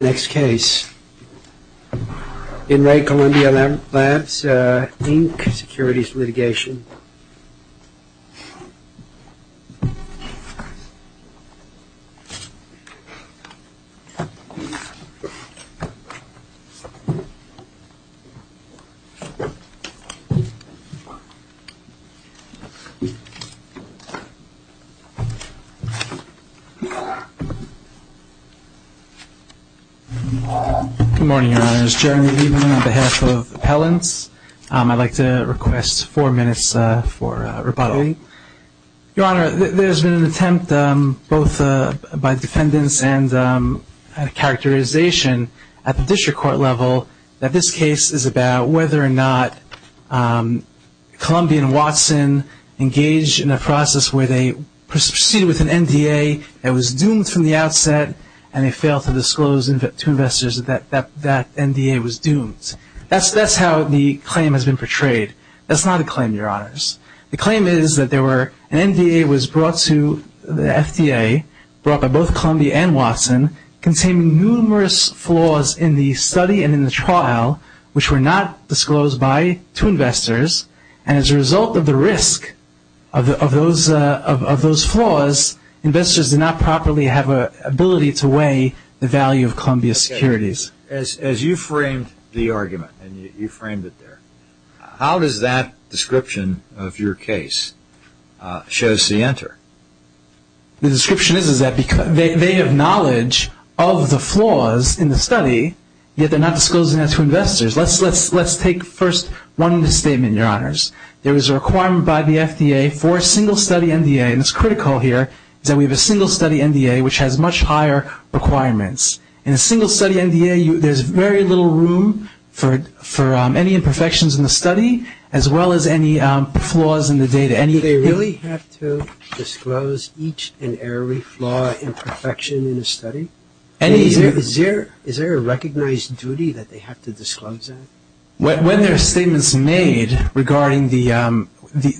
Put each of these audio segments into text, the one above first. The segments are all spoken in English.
Next case, In Re Columbia Labs, Inc. Securities Litigation. Good morning, Your Honor. It's Jeremy Lieberman on behalf of Appellants. I'd like to request four minutes for rebuttal. Your Honor, there's been an attempt both by defendants and characterization at the district court level that this case is about whether or not Columbian and Watson engaged in a process where they proceeded with an NDA that was doomed from the outset and they failed to disclose to investors that that NDA was doomed. That's how the claim has been portrayed. That's not a claim, Your Honors. The claim is that an NDA was brought to the FDA, brought by both Columbia and Watson, containing numerous flaws in the study and in the trial which were not disclosed by two investors. And as a result of the risk of those flaws, investors did not properly have an ability to weigh the value of Columbia securities. As you framed the argument and you framed it there, how does that description of your case show the answer? The description is that they have knowledge of the flaws in the study, yet they're not disclosing it to investors. Let's take first one in the statement, Your Honors. There was a requirement by the FDA for a single-study NDA, and it's critical here, that we have a single-study NDA which has much higher requirements. In a single-study NDA, there's very little room for any imperfections in the study as well as any flaws in the data. Do they really have to disclose each and every flaw, imperfection in the study? Is there a recognized duty that they have to disclose that? When there are statements made regarding the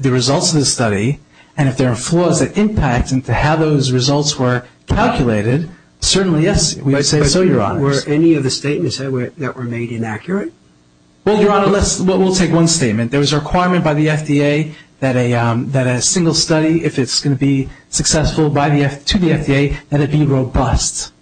results of the study, and if there are flaws that impact into how those results were calculated, certainly, yes, we would say so, Your Honors. Were any of the statements that were made inaccurate? Well, Your Honor, we'll take one statement. There was a requirement by the FDA that a single study, if it's going to be successful to the FDA, that it be robust.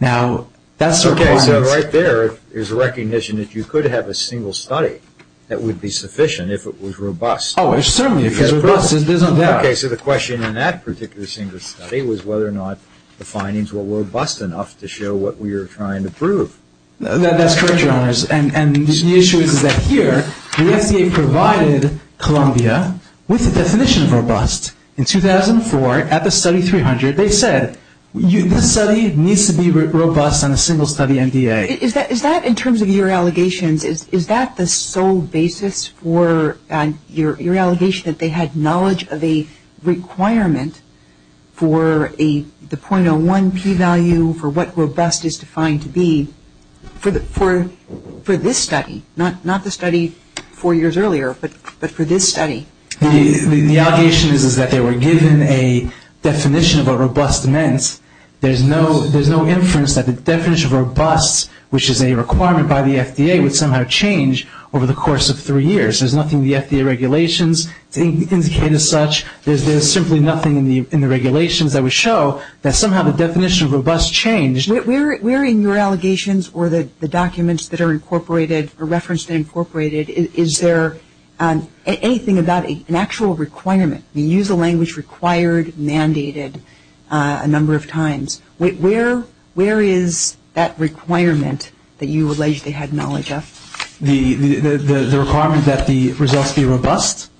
Now, that's a requirement. Okay, so right there is a recognition that you could have a single study that would be sufficient if it was robust. Oh, certainly. If it's robust, there's no doubt. Okay, so the question in that particular single study was whether or not the findings were robust enough to show what we were trying to prove. That's correct, Your Honors. And the issue is that here, the FDA provided Columbia with a definition of robust. In 2004, at the study 300, they said this study needs to be robust on a single study MDA. Is that, in terms of your allegations, is that the sole basis for your allegation that they had knowledge of a requirement for the .01 P value, for what robust is defined to be, for this study? Not the study four years earlier, but for this study? The allegation is that they were given a definition of what robust meant. There's no inference that the definition of robust, which is a requirement by the FDA, would somehow change over the course of three years. There's nothing the FDA regulations indicate as such. There's simply nothing in the regulations that would show that somehow the definition of robust changed. Where in your allegations or the documents that are incorporated or referenced and incorporated, is there anything about an actual requirement? You use the language required, mandated a number of times. Where is that requirement that you allege they had knowledge of? The requirement that the results be robust?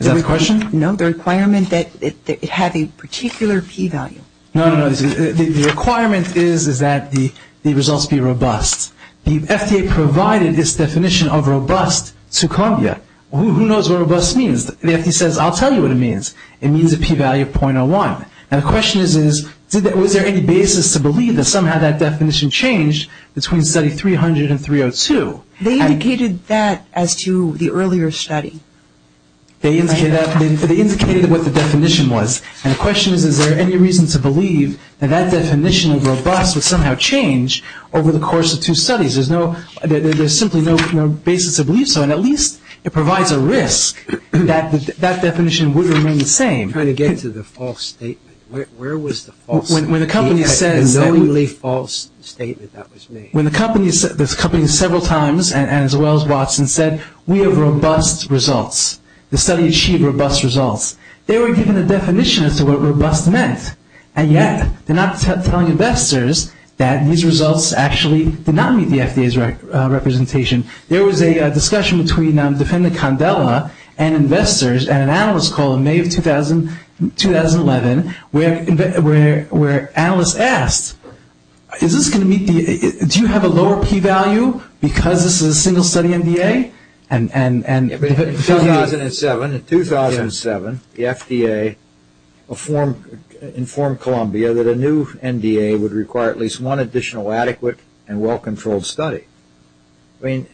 Is that the question? No, the requirement that it have a particular P value. No, no, no. The requirement is that the results be robust. The FDA provided this definition of robust to Columbia. Who knows what robust means? The FDA says, I'll tell you what it means. It means a P value of .01. Now the question is, was there any basis to believe that somehow that definition changed between study 300 and 302? They indicated that as to the earlier study. They indicated what the definition was. And the question is, is there any reason to believe that that definition of robust would somehow change over the course of two studies? There's simply no basis to believe so. And at least it provides a risk that that definition would remain the same. I'm trying to get to the false statement. Where was the false statement? When the company says that we have robust results. The study achieved robust results. They were given a definition as to what robust meant. And yet, they're not telling investors that these results actually did not meet the FDA's representation. There was a discussion between defendant Condella and investors at an analyst call in May of 2011 where analysts asked, is this going to meet the, do you have a lower P value because this is a single-study MDA? In 2007, the FDA informed Columbia that a new MDA would require at least one additional adequate and well-controlled study. They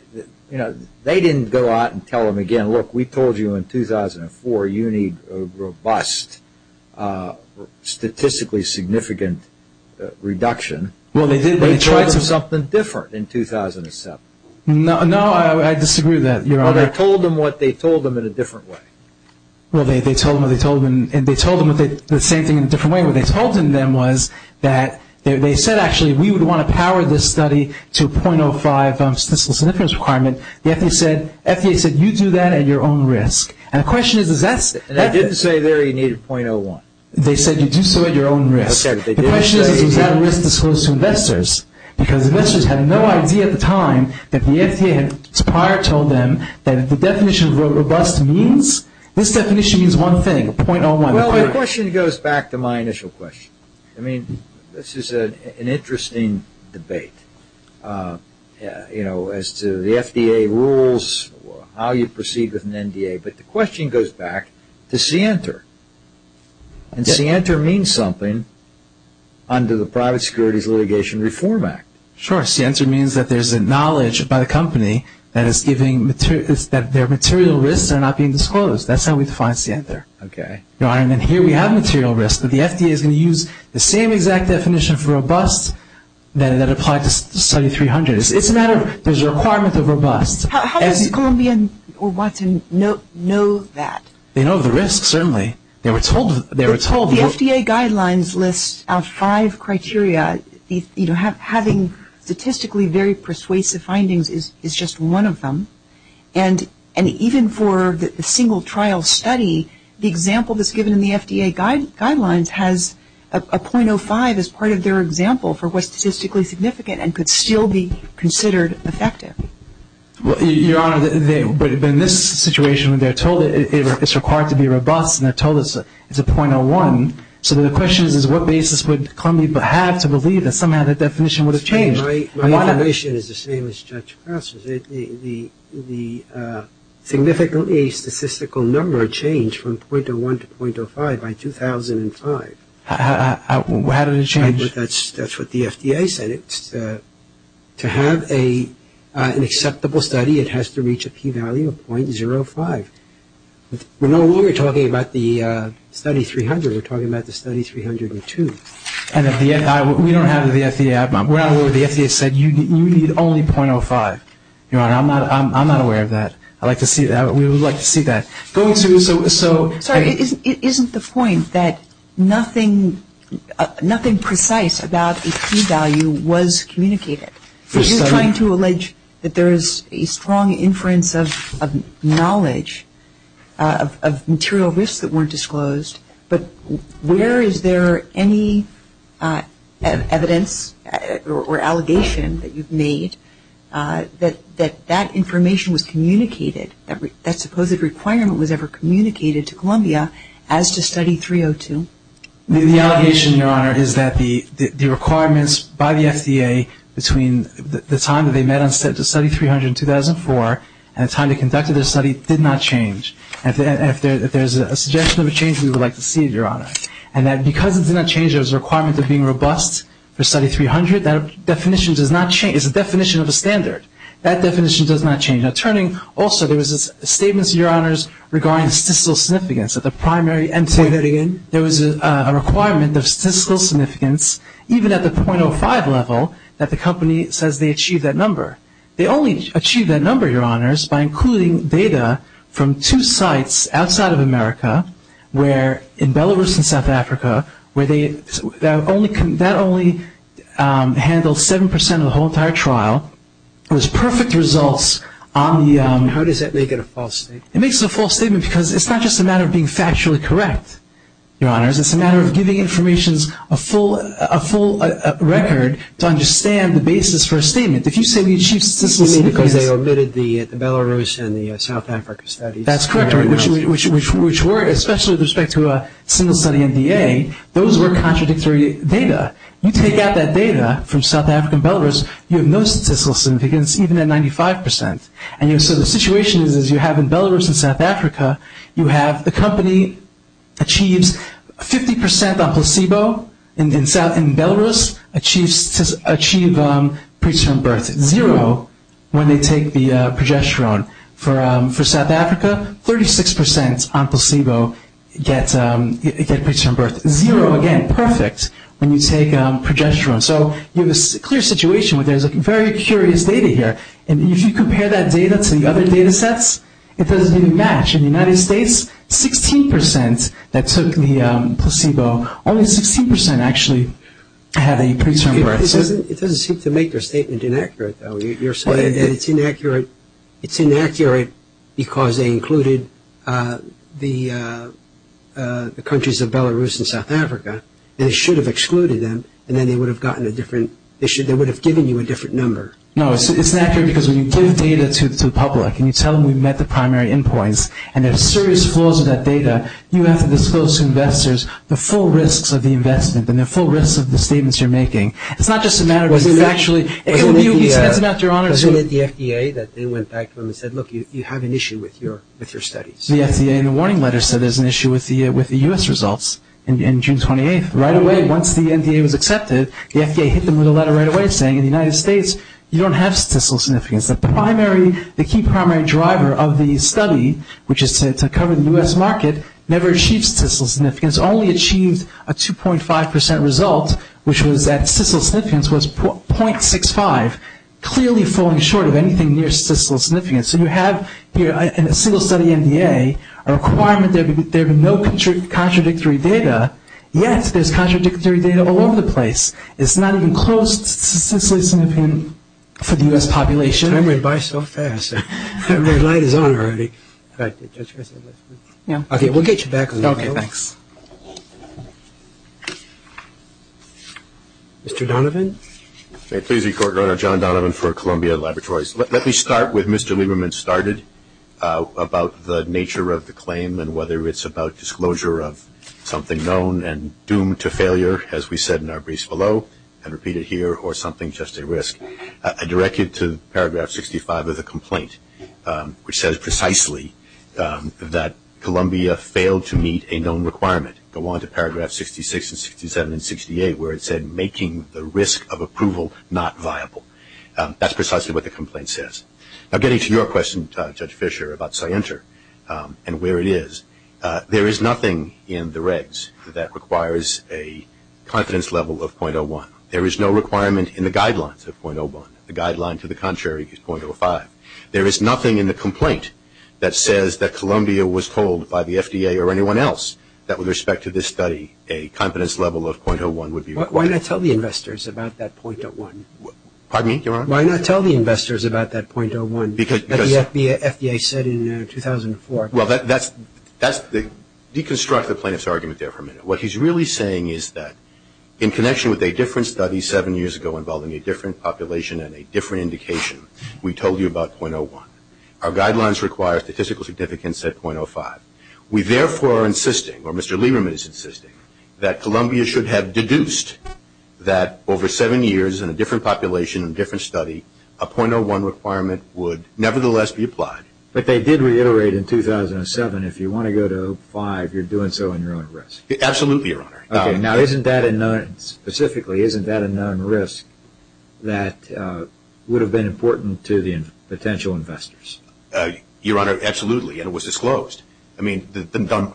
didn't go out and tell them again, look, we told you in 2004 you need a robust statistically significant reduction. They tried something different in 2007. No, I disagree with that, Your Honor. Well, they told them what they told them in a different way. Well, they told them what they told them. And they told them the same thing in a different way. What they told them then was that they said actually we would want to power this study to a .05 statistically significant requirement. The FDA said you do that at your own risk. And the question is, is that? They didn't say there you needed .01. They said you do so at your own risk. The question is, is that a risk disclosed to investors? Because investors had no idea at the time that the FDA had prior told them that the definition of robust means, this definition means one thing, .01. Well, the question goes back to my initial question. I mean, this is an interesting debate, you know, as to the FDA rules, how you proceed with an MDA. But the question goes back to CNTR. And CNTR means something under the Private Securities Litigation Reform Act. Sure. CNTR means that there's a knowledge by the company that it's giving material, that their material risks are not being disclosed. That's how we define CNTR. Okay. Your Honor, and here we have material risks. But the FDA is going to use the same exact definition for robust that applied to Study 300. It's a matter of, there's a requirement of robust. How does Columbia or Watson know that? They know the risks, certainly. They were told. The FDA guidelines list out five criteria. You know, having statistically very persuasive findings is just one of them. And even for the single trial study, the example that's given in the FDA guidelines has a .05 as part of their example for what's statistically significant and could still be considered effective. Your Honor, but in this situation, they're told it's required to be robust, and they're told it's a .01. So the question is, what basis would Columbia have to believe that somehow the definition would have changed? My information is the same as Judge Passer's. The significantly statistical number changed from .01 to .05 by 2005. How did it change? That's what the FDA said. To have an acceptable study, it has to reach a p-value of .05. We're no longer talking about the Study 300. We're talking about the Study 302. We don't have the FDA. We're not aware of what the FDA said. You need only .05. Your Honor, I'm not aware of that. I'd like to see that. We would like to see that. Sorry, it isn't the point that nothing precise about a p-value was communicated. He's trying to allege that there is a strong inference of knowledge of material risks that weren't disclosed, but where is there any evidence or allegation that you've made that that information was communicated, that supposed requirement was ever communicated to Columbia as to Study 302? The allegation, Your Honor, is that the requirements by the FDA between the time that they met on Study 300 in 2004 and the time they conducted the study did not change. If there's a suggestion of a change, we would like to see it, Your Honor. And that because it did not change, there was a requirement of being robust for Study 300. That definition does not change. It's a definition of a standard. That definition does not change. Turning also, there was a statement, Your Honors, regarding statistical significance at the primary end. Say that again. There was a requirement of statistical significance, even at the .05 level, that the company says they achieved that number. They only achieved that number, Your Honors, by including data from two sites outside of America, where in Belarus and South Africa, that only handled 7% of the whole entire trial. There's perfect results on the… How does that make it a false statement? It makes it a false statement because it's not just a matter of being factually correct, Your Honors. It's a matter of giving information a full record to understand the basis for a statement. If you say we achieved statistical significance… Because they omitted the Belarus and the South Africa studies. That's correct, which were, especially with respect to a single-study NDA, those were contradictory data. You take out that data from South Africa and Belarus, you have no statistical significance, even at 95%. The situation is you have in Belarus and South Africa, you have the company achieves 50% on placebo. In Belarus, achieves pre-term birth zero when they take the progesterone. For South Africa, 36% on placebo get pre-term birth zero. Pre-term birth zero, again, perfect when you take progesterone. So you have a clear situation where there's very curious data here. And if you compare that data to the other data sets, it doesn't even match. In the United States, 16% that took the placebo, only 16% actually had a pre-term birth. It doesn't seem to make your statement inaccurate, though. It's inaccurate because they included the countries of Belarus and South Africa. They should have excluded them, and then they would have given you a different number. No, it's inaccurate because when you give data to the public and you tell them we met the primary endpoints, and there are serious flaws in that data, you have to disclose to investors the full risks of the investment and the full risks of the statements you're making. It's not just a matter of factually. It would be offensive after your honors. Wasn't it the FDA that they went back to them and said, look, you have an issue with your studies? The FDA in the warning letter said there's an issue with the U.S. results in June 28th. Right away, once the NDA was accepted, the FDA hit them with a letter right away saying, in the United States, you don't have statistical significance. The key primary driver of the study, which is to cover the U.S. market, never achieved statistical significance, only achieved a 2.5 percent result, which was that statistical significance was .65, clearly falling short of anything near statistical significance. So you have in a single study NDA a requirement that there be no contradictory data, yet there's contradictory data all over the place. It's not even close to statistical significance for the U.S. population. Time went by so fast. The light is on already. Okay, we'll get you back. Okay, thanks. Mr. Donovan. May it please the Court, Your Honor. John Donovan for Columbia Laboratories. Let me start with Mr. Lieberman started about the nature of the claim and whether it's about disclosure of something known and doomed to failure, as we said in our briefs below, and repeat it here, or something just a risk. I direct you to Paragraph 65 of the complaint, which says precisely that Columbia failed to meet a known requirement. Go on to Paragraph 66 and 67 and 68, where it said making the risk of approval not viable. That's precisely what the complaint says. Now, getting to your question, Judge Fischer, about CYENTR and where it is, there is nothing in the regs that requires a confidence level of .01. There is no requirement in the guidelines of .01. The guideline to the contrary is .05. There is nothing in the complaint that says that Columbia was told by the FDA or anyone else that with respect to this study a confidence level of .01 would be required. Why not tell the investors about that .01? Pardon me, Your Honor? Why not tell the investors about that .01 that the FDA said in 2004? Well, that's the deconstruct the plaintiff's argument there for a minute. What he's really saying is that in connection with a different study seven years ago involving a different population and a different indication, we told you about .01. Our guidelines require statistical significance at .05. We therefore are insisting, or Mr. Lieberman is insisting, that Columbia should have deduced that over seven years in a different population, in a different study, a .01 requirement would nevertheless be applied. But they did reiterate in 2007 if you want to go to .05, you're doing so in your own risk. Absolutely, Your Honor. Okay. Now, isn't that a known, specifically, isn't that a known risk that would have been important to the potential investors? Your Honor, absolutely, and it was disclosed. I mean,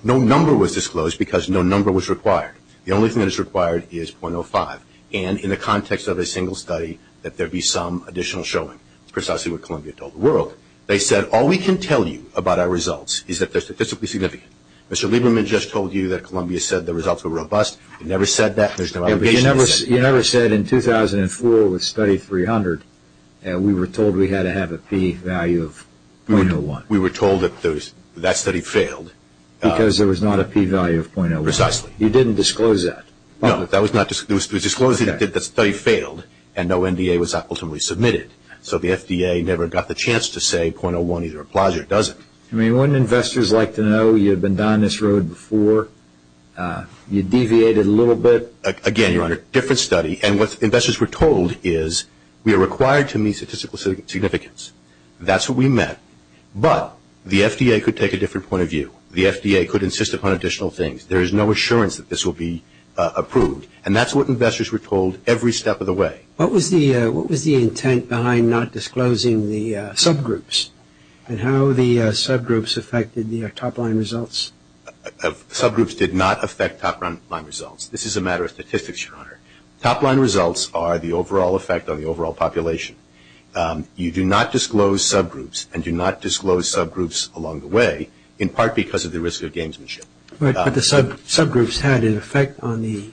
no number was disclosed because no number was required. The only thing that is required is .05, and in the context of a single study that there be some additional showing. It's precisely what Columbia told the world. They said all we can tell you about our results is that they're statistically significant. Mr. Lieberman just told you that Columbia said the results were robust. It never said that. There's no obligation to say that. You never said in 2004 with Study 300 we were told we had to have a P value of .01. We were told that that study failed. Because there was not a P value of .01. Precisely. You didn't disclose that. No, that was not disclosed. It was disclosed that the study failed and no NDA was ultimately submitted. So the FDA never got the chance to say .01 either applies or doesn't. I mean, wouldn't investors like to know you've been down this road before? You deviated a little bit. Again, Your Honor, different study. And what investors were told is we are required to meet statistical significance. That's what we meant. But the FDA could take a different point of view. The FDA could insist upon additional things. There is no assurance that this will be approved. And that's what investors were told every step of the way. What was the intent behind not disclosing the subgroups and how the subgroups affected the top-line results? Subgroups did not affect top-line results. This is a matter of statistics, Your Honor. Top-line results are the overall effect on the overall population. You do not disclose subgroups and do not disclose subgroups along the way, in part because of the risk of gamesmanship. But the subgroups had an effect on the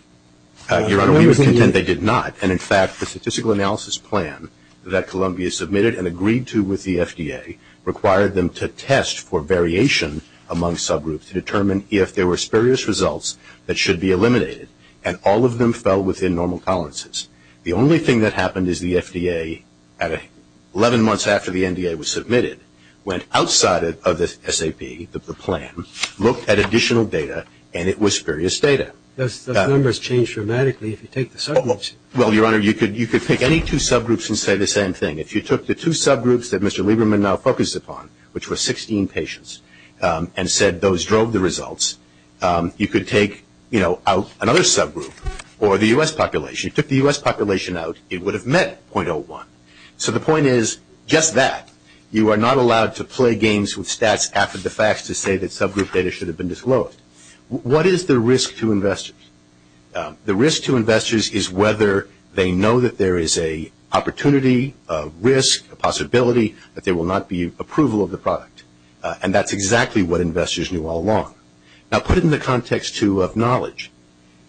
NDA. Your Honor, we were content they did not. And, in fact, the statistical analysis plan that Columbia submitted and agreed to with the FDA required them to test for variation among subgroups to determine if there were spurious results that should be eliminated. And all of them fell within normal tolerances. The only thing that happened is the FDA, 11 months after the NDA was submitted, went outside of the SAP, the plan, looked at additional data, and it was spurious data. Those numbers change dramatically if you take the subgroups. Well, Your Honor, you could pick any two subgroups and say the same thing. If you took the two subgroups that Mr. Lieberman now focuses upon, which were 16 patients, and said those drove the results, you could take, you know, out another subgroup or the U.S. population. If you took the U.S. population out, it would have met 0.01. So the point is just that. You are not allowed to play games with stats after the facts to say that subgroup data should have been disclosed. What is the risk to investors? The risk to investors is whether they know that there is a opportunity, a risk, a possibility, that there will not be approval of the product. And that's exactly what investors knew all along. Now put it in the context, too, of knowledge.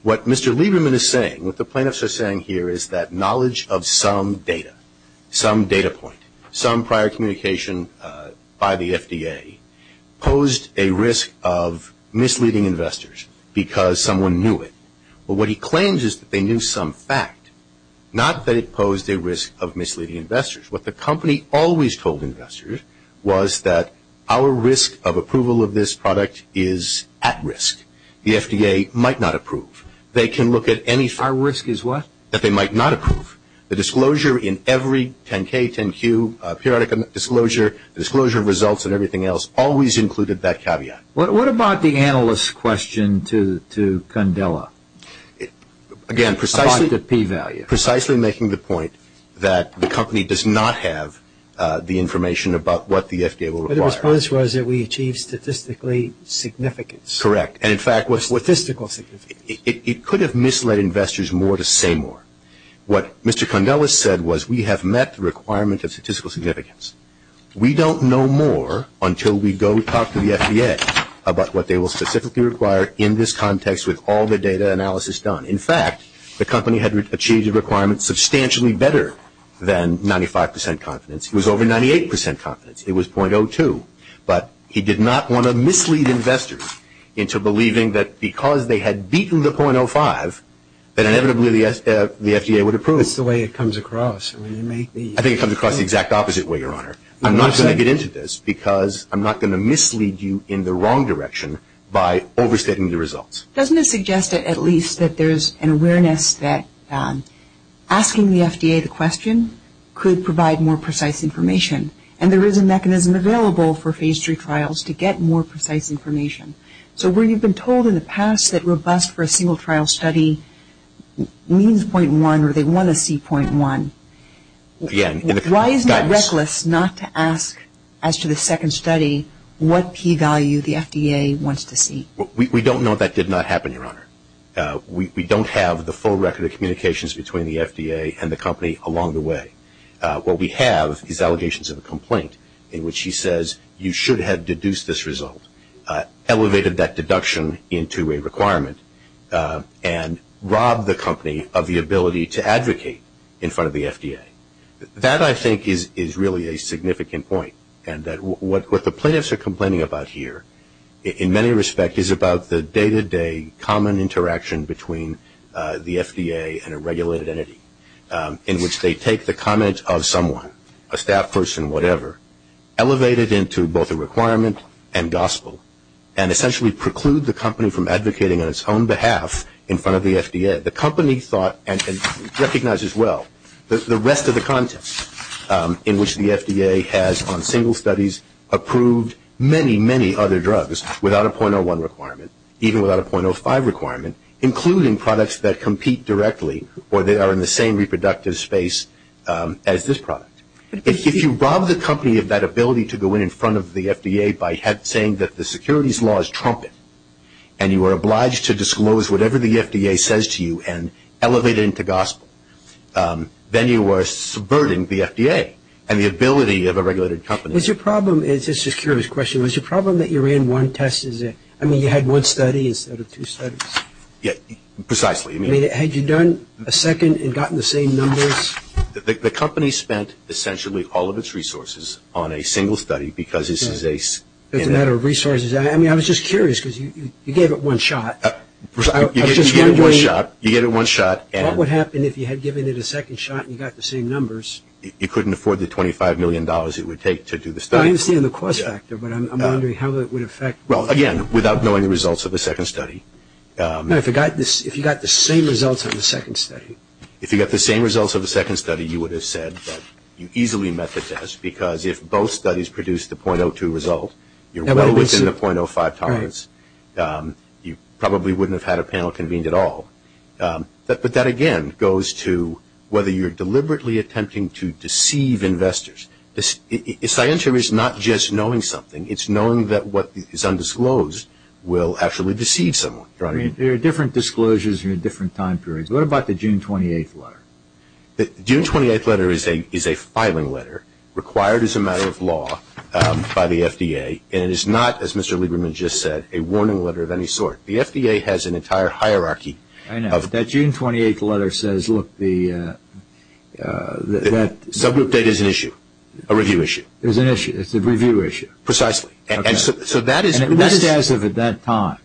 What Mr. Lieberman is saying, what the plaintiffs are saying here, is that knowledge of some data, some data point, some prior communication by the FDA, posed a risk of misleading investors because someone knew it. But what he claims is that they knew some fact. Not that it posed a risk of misleading investors. What the company always told investors was that our risk of approval of this product is at risk. The FDA might not approve. They can look at any fact. Our risk is what? That they might not approve. The disclosure in every 10-K, 10-Q, periodic disclosure, the disclosure of results and everything else, always included that caveat. What about the analyst's question to Candela? Again, precisely making the point that the company does not have the information about what the FDA will require. The response was that we achieved statistically significant. Correct. Statistically significant. It could have misled investors more to say more. What Mr. Candela said was we have met the requirement of statistical significance. We don't know more until we go talk to the FDA about what they will specifically require in this context with all the data analysis done. In fact, the company had achieved a requirement substantially better than 95% confidence. It was over 98% confidence. It was .02. But he did not want to mislead investors into believing that because they had beaten the .05, that inevitably the FDA would approve. That's the way it comes across. I think it comes across the exact opposite way, Your Honor. I'm not going to get into this because I'm not going to mislead you in the wrong direction by overstating the results. Doesn't it suggest at least that there's an awareness that asking the FDA the question could provide more precise information? And there is a mechanism available for Phase III trials to get more precise information. So where you've been told in the past that robust for a single trial study means .1 or they want to see .1, why is it reckless not to ask as to the second study what P value the FDA wants to see? We don't know that did not happen, Your Honor. We don't have the full record of communications between the FDA and the company along the way. What we have is allegations of a complaint in which he says you should have deduced this result, elevated that deduction into a requirement, and robbed the company of the ability to advocate in front of the FDA. That, I think, is really a significant point, and that what the plaintiffs are complaining about here in many respects is about the day-to-day common interaction between the FDA and a regulated entity in which they take the comment of someone, a staff person, whatever, elevate it into both a requirement and gospel, and essentially preclude the company from advocating on its own behalf in front of the FDA. The company thought, and recognizes well, the rest of the context in which the FDA has on single studies approved many, many other drugs without a .01 requirement, even without a .05 requirement, including products that compete directly or that are in the same reproductive space as this product. If you rob the company of that ability to go in front of the FDA by saying that the securities law is trumpet and you are obliged to disclose whatever the FDA says to you and elevate it into gospel, then you are subverting the FDA and the ability of a regulated company. Was your problem, and this is a curious question, was your problem that you ran one test? I mean, you had one study instead of two studies. Precisely. Had you done a second and gotten the same numbers? The company spent essentially all of its resources on a single study because this is a... It's a matter of resources. I mean, I was just curious because you gave it one shot. You gave it one shot. You gave it one shot. What would happen if you had given it a second shot and you got the same numbers? You couldn't afford the $25 million it would take to do the study. I understand the cost factor, but I'm wondering how that would affect... Well, again, without knowing the results of the second study. If you got the same results of the second study. If you got the same results of the second study, you would have said that you easily met the test because if both studies produced the .02 result, you're well within the .05 tolerance. You probably wouldn't have had a panel convened at all. But that, again, goes to whether you're deliberately attempting to deceive investors. The science here is not just knowing something. It's knowing that what is undisclosed will actually deceive someone. There are different disclosures and different time periods. What about the June 28th letter? The June 28th letter is a filing letter required as a matter of law by the FDA, and it is not, as Mr. Lieberman just said, a warning letter of any sort. The FDA has an entire hierarchy of... I know. That June 28th letter says, look, the... Subgroup data is an issue, a review issue. It's an issue. It's a review issue. Precisely. And so that is... And that is as of at that time.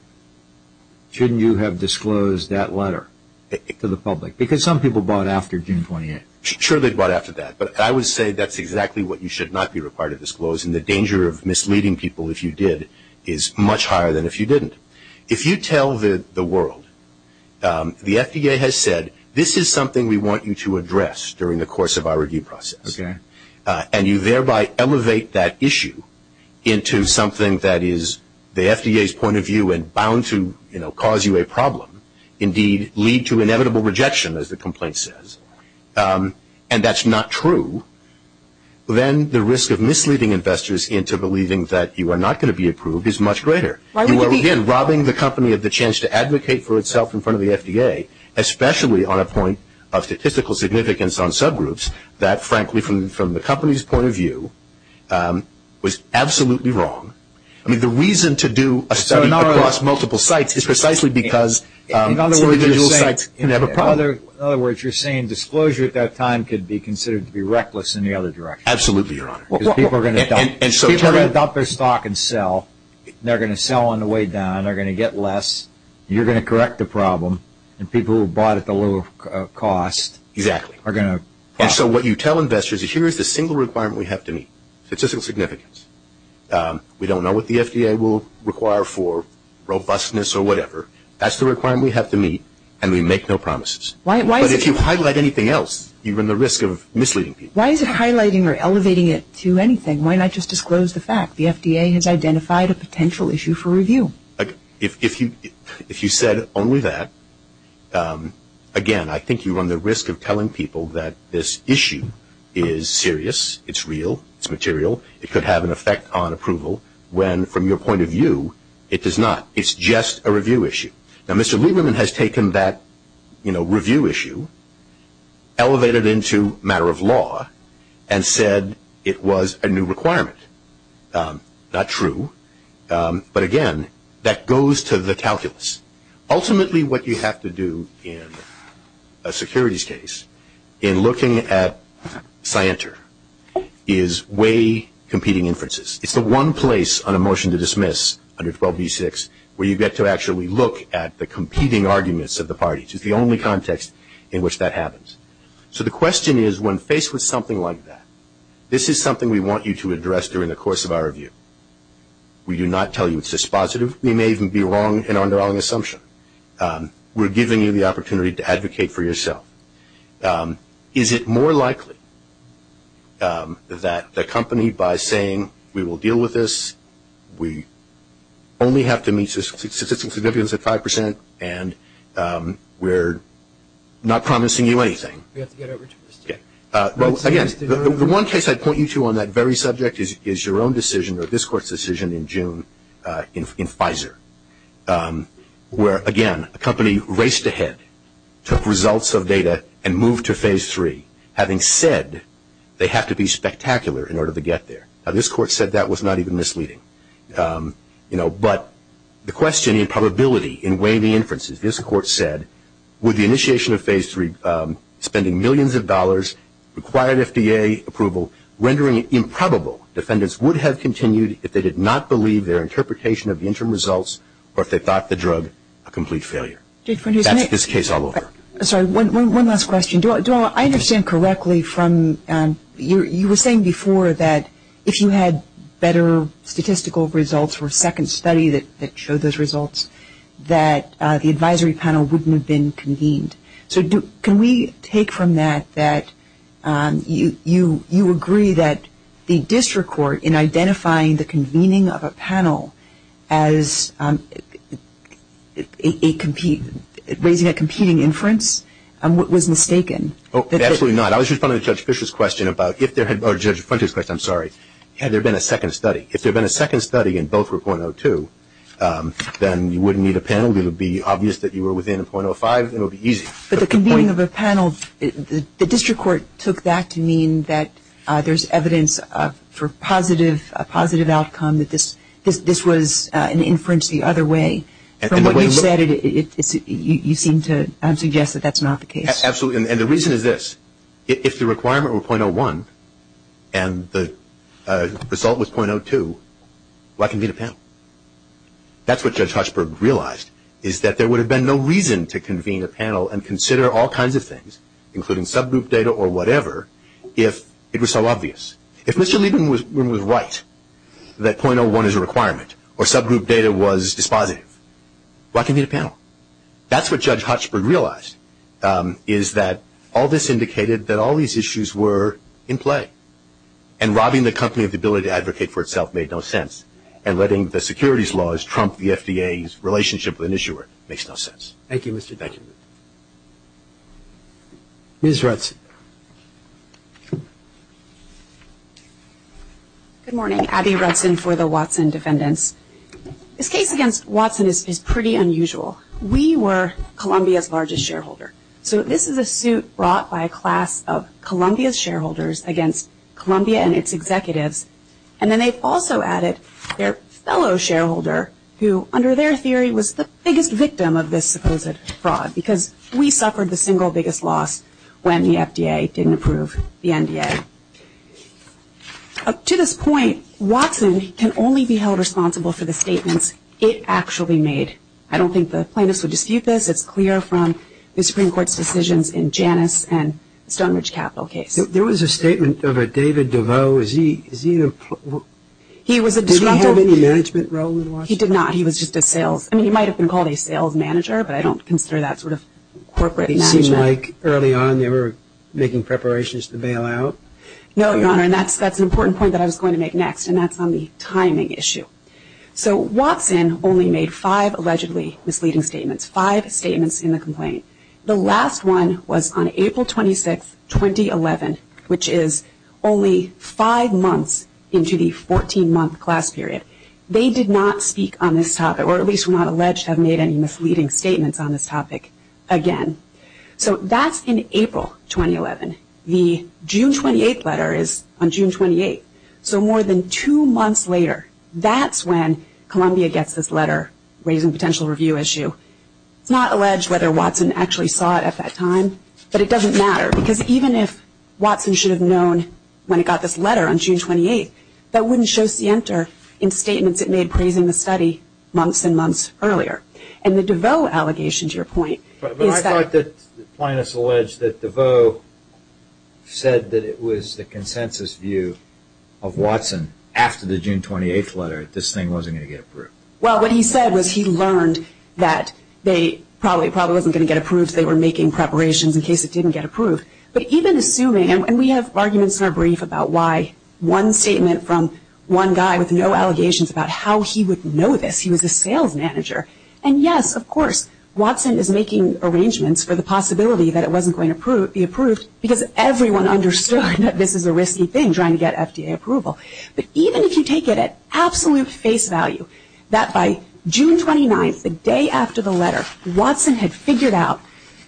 Shouldn't you have disclosed that letter to the public? Because some people bought after June 28th. Sure, they bought after that. But I would say that's exactly what you should not be required to disclose, and the danger of misleading people if you did is much higher than if you didn't. If you tell the world, the FDA has said, this is something we want you to address during the course of our review process, and you thereby elevate that issue into something that is the FDA's point of view and bound to, you know, cause you a problem, indeed lead to inevitable rejection, as the complaint says, and that's not true, then the risk of misleading investors into believing that you are not going to be approved is much greater. You are, again, robbing the company of the chance to advocate for itself in front of the FDA, especially on a point of statistical significance on subgroups that, frankly, from the company's point of view, was absolutely wrong. I mean, the reason to do a study across multiple sites is precisely because individual sites can have a problem. In other words, you're saying disclosure at that time could be considered to be reckless in the other direction. Absolutely, Your Honor. People are going to adopt their stock and sell. They're going to sell on the way down. They're going to get less. You're going to correct the problem, and people who bought at the low cost are going to profit. Exactly. And so what you tell investors is here is the single requirement we have to meet, statistical significance. We don't know what the FDA will require for robustness or whatever. That's the requirement we have to meet, and we make no promises. But if you highlight anything else, you run the risk of misleading people. Why is it highlighting or elevating it to anything? Why not just disclose the fact the FDA has identified a potential issue for review? If you said only that, again, I think you run the risk of telling people that this issue is serious. It's real. It's material. It could have an effect on approval when, from your point of view, it does not. It's just a review issue. Now, Mr. Lieberman has taken that, you know, review issue, elevated it into matter of law, and said it was a new requirement. Not true. But, again, that goes to the calculus. Ultimately, what you have to do in a securities case, in looking at scienter, is weigh competing inferences. It's the one place on a motion to dismiss, under 12b-6, where you get to actually look at the competing arguments of the parties. It's the only context in which that happens. So the question is, when faced with something like that, this is something we want you to address during the course of our review. We do not tell you it's dispositive. We may even be wrong in our wrong assumption. We're giving you the opportunity to advocate for yourself. Is it more likely that the company, by saying we will deal with this, we only have to meet statistical significance at 5% and we're not promising you anything? We have to get over to the state. Well, again, the one case I'd point you to on that very subject is your own decision, or this court's decision in June in Pfizer, where, again, a company raced ahead, took results of data, and moved to Phase 3, having said they have to be spectacular in order to get there. Now, this court said that was not even misleading. But the question in probability, in weighing the inferences, this court said, with the initiation of Phase 3, spending millions of dollars, required FDA approval, rendering it improbable, defendants would have continued if they did not believe their interpretation of the interim results or if they thought the drug a complete failure. That's this case all over. Sorry, one last question. Do I understand correctly from, you were saying before that if you had better statistical results for a second study that showed those results, that the advisory panel wouldn't have been convened. So can we take from that that you agree that the district court, in identifying the convening of a panel as raising a competing inference, was mistaken? Absolutely not. I was responding to Judge Fischer's question about if there had been a second study. If there had been a second study and both were .02, then you wouldn't need a panel. It would be obvious that you were within a .05. It would be easy. But the convening of a panel, the district court took that to mean that there's evidence for a positive outcome, that this was an inference the other way. From what you said, you seem to suggest that that's not the case. Absolutely. And the reason is this. If the requirement were .01 and the result was .02, why convene a panel? That's what Judge Hochberg realized, is that there would have been no reason to convene a panel and consider all kinds of things, including subgroup data or whatever, if it was so obvious. If Mr. Lieben was right that .01 is a requirement or subgroup data was dispositive, why convene a panel? That's what Judge Hochberg realized, is that all this indicated that all these issues were in play. And robbing the company of the ability to advocate for itself made no sense. And letting the securities laws trump the FDA's relationship with an issuer makes no sense. Thank you, Mr. Lieben. Thank you. Ms. Rudson. Good morning. Abby Rudson for the Watson defendants. This case against Watson is pretty unusual. We were Columbia's largest shareholder. So this is a suit brought by a class of Columbia's shareholders against Columbia and its executives. And then they've also added their fellow shareholder who, under their theory, was the biggest victim of this supposed fraud, because we suffered the single biggest loss when the FDA didn't approve the NDA. Up to this point, Watson can only be held responsible for the statements it actually made. I don't think the plaintiffs would dispute this. It's clear from the Supreme Court's decisions in Janus and the Stonebridge Capital case. There was a statement of a David DeVos. Is he an employee? He was a disruptor. Did he have any management role in Watson? He did not. He was just a sales. I mean, he might have been called a sales manager, but I don't consider that sort of corporate management. It seemed like early on they were making preparations to bail out. No, Your Honor, and that's an important point that I was going to make next, and that's on the timing issue. So Watson only made five allegedly misleading statements, five statements in the complaint. The last one was on April 26, 2011, which is only five months into the 14-month class period. They did not speak on this topic, or at least were not alleged to have made any misleading statements on this topic again. So that's in April 2011. The June 28 letter is on June 28. So more than two months later, that's when Columbia gets this letter raising potential review issue. It's not alleged whether Watson actually saw it at that time, but it doesn't matter, because even if Watson should have known when it got this letter on June 28, that wouldn't show scienter in statements it made praising the study months and months earlier. And the DeVos allegation, to your point, is that – after the June 28 letter, this thing wasn't going to get approved. Well, what he said was he learned that it probably wasn't going to get approved. They were making preparations in case it didn't get approved. But even assuming – and we have arguments in our brief about why one statement from one guy with no allegations about how he would know this, he was a sales manager. And yes, of course, Watson is making arrangements for the possibility that it wasn't going to be approved, because everyone understood that this is a risky thing, trying to get FDA approval. But even if you take it at absolute face value that by June 29, the day after the letter, Watson had figured out,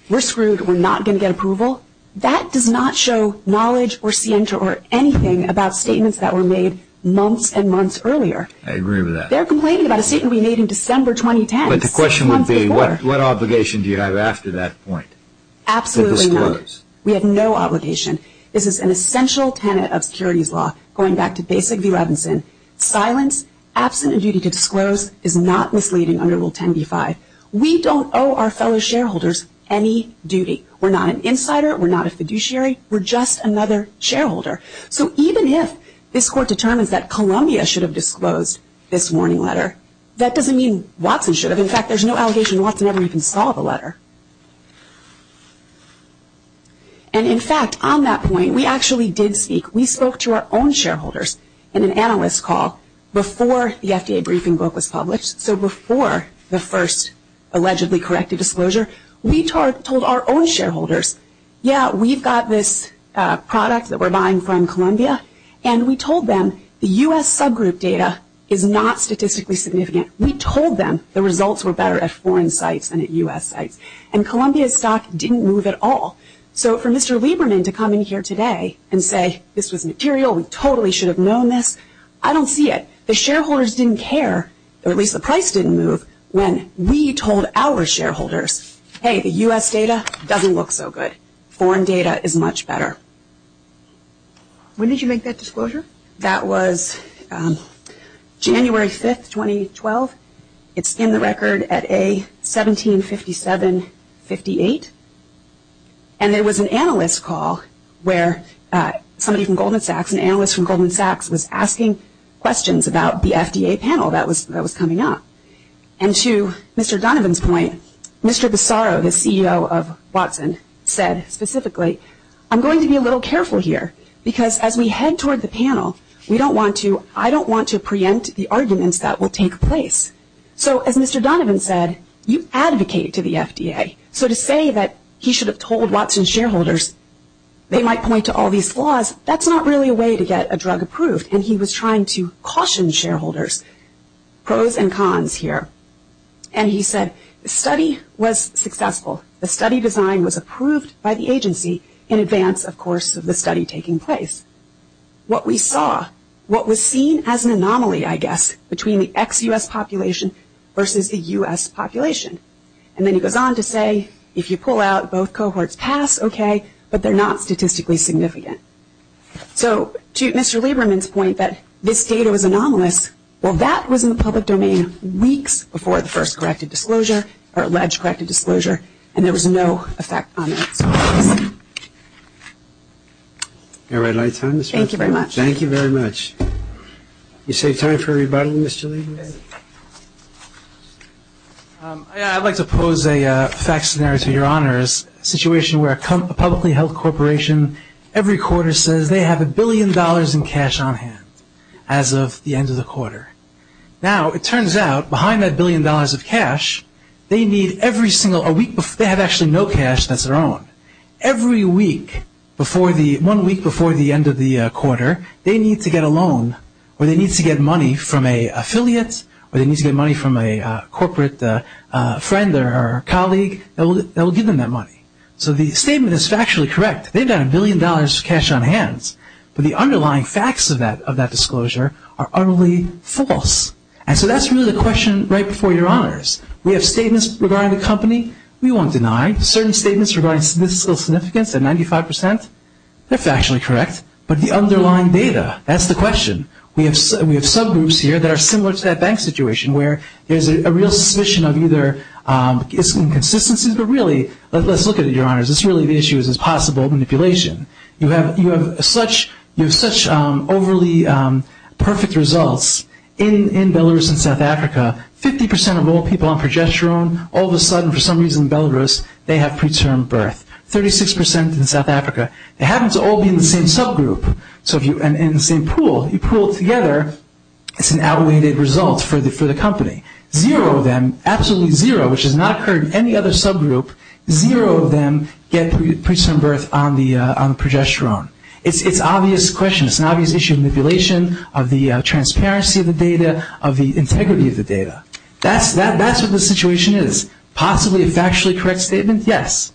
we're screwed, we're not going to get approval, that does not show knowledge or scienter or anything about statements that were made months and months earlier. I agree with that. They're complaining about a statement we made in December 2010. But the question would be, what obligation do you have after that point to disclose? We have no obligation. This is an essential tenet of securities law, going back to Basic v. Robinson. Silence, absent a duty to disclose, is not misleading under Rule 10b-5. We don't owe our fellow shareholders any duty. We're not an insider. We're not a fiduciary. We're just another shareholder. So even if this Court determines that Columbia should have disclosed this warning letter, that doesn't mean Watson should have. In fact, there's no allegation Watson ever even saw the letter. And in fact, on that point, we actually did speak. We spoke to our own shareholders in an analyst call before the FDA briefing book was published. So before the first allegedly corrected disclosure, we told our own shareholders, yeah, we've got this product that we're buying from Columbia, and we told them the U.S. subgroup data is not statistically significant. We told them the results were better at foreign sites than at U.S. sites. And Columbia's stock didn't move at all. So for Mr. Lieberman to come in here today and say this was material, we totally should have known this, I don't see it. The shareholders didn't care, or at least the price didn't move, when we told our shareholders, hey, the U.S. data doesn't look so good. Foreign data is much better. When did you make that disclosure? That was January 5, 2012. It's in the record at A175758. And there was an analyst call where somebody from Goldman Sachs, an analyst from Goldman Sachs, was asking questions about the FDA panel that was coming up. And to Mr. Donovan's point, Mr. Bassaro, the CEO of Watson, said specifically, I'm going to be a little careful here because as we head toward the panel, I don't want to preempt the arguments that will take place. So as Mr. Donovan said, you advocate to the FDA. So to say that he should have told Watson shareholders they might point to all these flaws, that's not really a way to get a drug approved. And he was trying to caution shareholders, pros and cons here. And he said the study was successful. The study design was approved by the agency in advance, of course, of the study taking place. What we saw, what was seen as an anomaly, I guess, between the ex-U.S. population versus the U.S. population. And then he goes on to say if you pull out, both cohorts pass, okay, but they're not statistically significant. So to Mr. Lieberman's point that this data was anomalous, well, that was in the public domain weeks before the first corrected disclosure or alleged corrected disclosure, and there was no effect on that. All right. Thank you very much. Thank you very much. You save time for a rebuttal, Mr. Lieberman. I'd like to pose a fact scenario to your honors, a situation where a publicly held corporation, every quarter, says they have a billion dollars in cash on hand as of the end of the quarter. Now, it turns out, behind that billion dollars of cash, they have actually no cash that's their own. Every week, one week before the end of the quarter, they need to get a loan or they need to get money from an affiliate or they need to get money from a corporate friend or colleague. They'll give them that money. So the statement is factually correct. They've got a billion dollars of cash on hand, but the underlying facts of that disclosure are utterly false. And so that's really the question right before your honors. We have statements regarding the company we won't deny. Certain statements regarding fiscal significance at 95 percent, they're factually correct, but the underlying data, that's the question. We have subgroups here that are similar to that bank situation where there's a real suspicion of either inconsistencies, but really, let's look at it, your honors, it's really the issue is possible manipulation. You have such overly perfect results. In Belarus and South Africa, 50 percent of all people on progesterone, all of a sudden, for some reason in Belarus, they have preterm birth. Thirty-six percent in South Africa, it happens to all be in the same subgroup. So if you're in the same pool, you pool together, it's an outweighed result for the company. Zero of them, absolutely zero, which has not occurred in any other subgroup, zero of them get preterm birth on the progesterone. It's an obvious question. It's an obvious issue of manipulation, of the transparency of the data, of the integrity of the data. That's what the situation is. Possibly a factually correct statement, yes,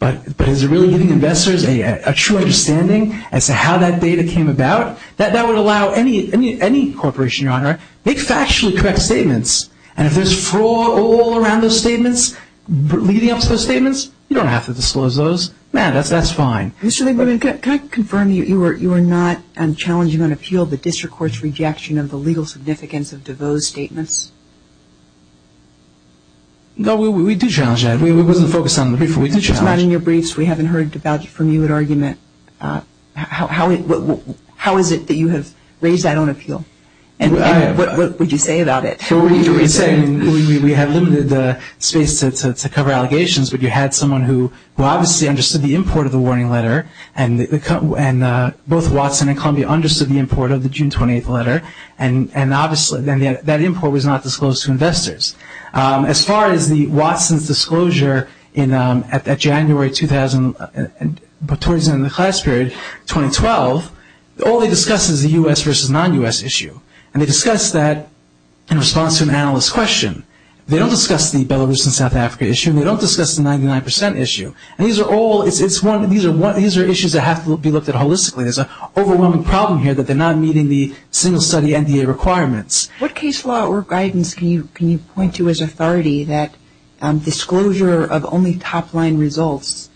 but is it really giving investors a true understanding as to how that data came about? That would allow any corporation, your honor, make factually correct statements, and if there's fraud all around those statements, leading up to those statements, you don't have to disclose those. Man, that's fine. Mr. Lieberman, can I confirm that you are not challenging on appeal the district court's rejection of the legal significance of DeVos' statements? No, we do challenge that. We wasn't focused on the brief, but we do challenge that. It's not in your briefs. We haven't heard from you an argument. How is it that you have raised that on appeal, and what would you say about it? We have limited space to cover allegations, but you had someone who obviously understood the import of the warning letter, and both Watson and Columbia understood the import of the June 28th letter, and obviously that import was not disclosed to investors. As far as the Watson's disclosure at January 2012, all they discussed was the U.S. versus non-U.S. issue, and they discussed that in response to an analyst's question. They don't discuss the Belarus and South Africa issue, and they don't discuss the 99% issue. These are issues that have to be looked at holistically. There's an overwhelming problem here that they're not meeting the single-study NDA requirements. What case law or guidance can you point to as authority that disclosure of only top-line results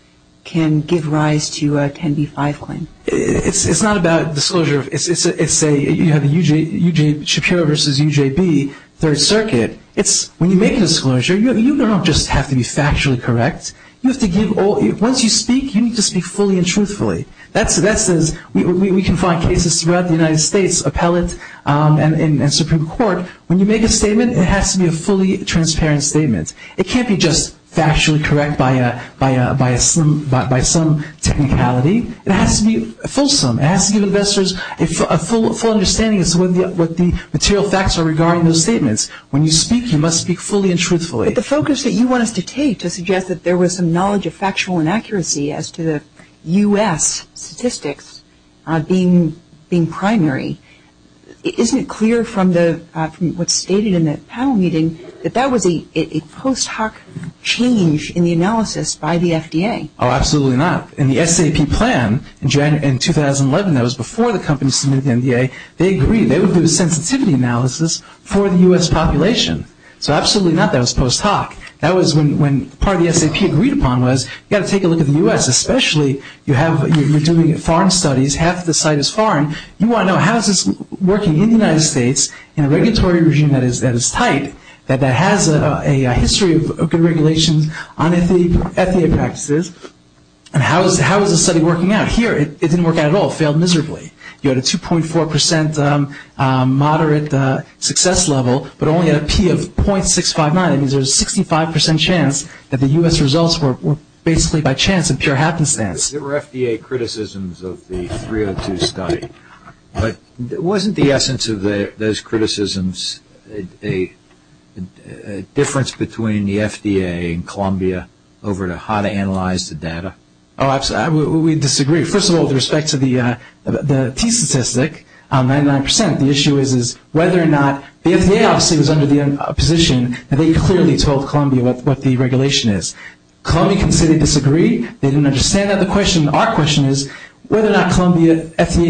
can give rise to a 10b-5 claim? It's not about disclosure. You have Shapiro versus UJB, Third Circuit. When you make a disclosure, you don't just have to be factually correct. Once you speak, you need to speak fully and truthfully. We can find cases throughout the United States, appellate and Supreme Court. When you make a statement, it has to be a fully transparent statement. It can't be just factually correct by some technicality. It has to be fulsome. It has to give investors a full understanding as to what the material facts are regarding those statements. When you speak, you must speak fully and truthfully. But the focus that you want us to take to suggest that there was some knowledge of factual inaccuracy as to the U.S. statistics being primary, isn't it clear from what's stated in the panel meeting that that was a post hoc change in the analysis by the FDA? Oh, absolutely not. In the SAP plan in 2011, that was before the company submitted to the NDA, they agreed they would do a sensitivity analysis for the U.S. population. So absolutely not, that was post hoc. That was when part of the SAP agreed upon was you've got to take a look at the U.S., especially you're doing foreign studies, half the site is foreign. You want to know how is this working in the United States in a regulatory regime that is tight, that has a history of good regulations on FDA practices, and how is the study working out? Here, it didn't work out at all. It failed miserably. You had a 2.4% moderate success level, but only at a P of .659. It means there's a 65% chance that the U.S. results were basically by chance and pure happenstance. There were FDA criticisms of the 302 study, but wasn't the essence of those criticisms a difference between the FDA and Columbia over how to analyze the data? Oh, absolutely. We disagree. First of all, with respect to the T statistic, 99%, the issue is whether or not the FDA obviously was under the position that they clearly told Columbia what the regulation is. Columbia can say they disagree. They didn't understand that. Our question is whether or not Columbia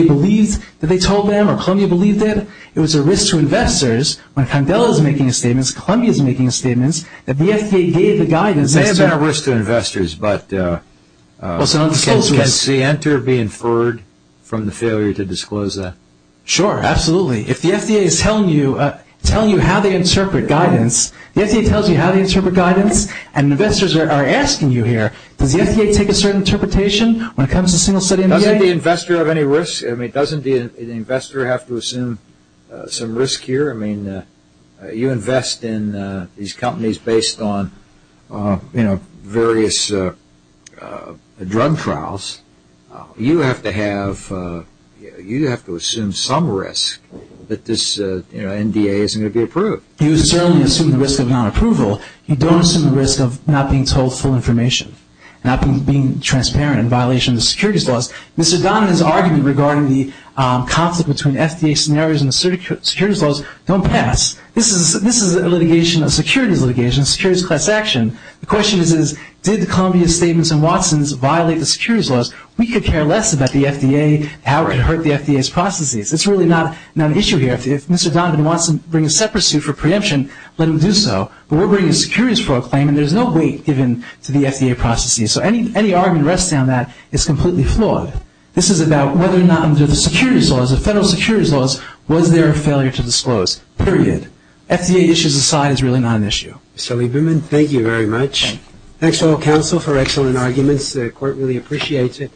believes that they told them or Columbia believed it. It was a risk to investors when Condell is making a statement, Columbia is making a statement, that the FDA gave the guidance. It may have been a risk to investors, but can Center be inferred from the failure to disclose that? Sure, absolutely. If the FDA is telling you how they interpret guidance, the FDA tells you how they interpret guidance, and investors are asking you here, does the FDA take a certain interpretation when it comes to single study? Doesn't the investor have any risk? Doesn't the investor have to assume some risk here? You invest in these companies based on various drug trials. You have to assume some risk that this NDA isn't going to be approved. You certainly assume the risk of non-approval. You don't assume the risk of not being told full information, not being transparent in violation of the securities laws. Mr. Donovan's argument regarding the conflict between FDA scenarios and the securities laws don't pass. This is a litigation, a securities litigation, a securities class action. The question is, did Columbia's statements and Watson's violate the securities laws? We could care less about the FDA, how it could hurt the FDA's processes. It's really not an issue here. If Mr. Donovan wants to bring a separate suit for preemption, let him do so. But we're bringing securities for a claim, and there's no weight given to the FDA processes. So any argument resting on that is completely flawed. This is about whether or not under the securities laws, the federal securities laws, was there a failure to disclose, period. FDA issues aside, it's really not an issue. Mr. Lieberman, thank you very much. Thank you. Thanks to all counsel for excellent arguments. The court really appreciates it.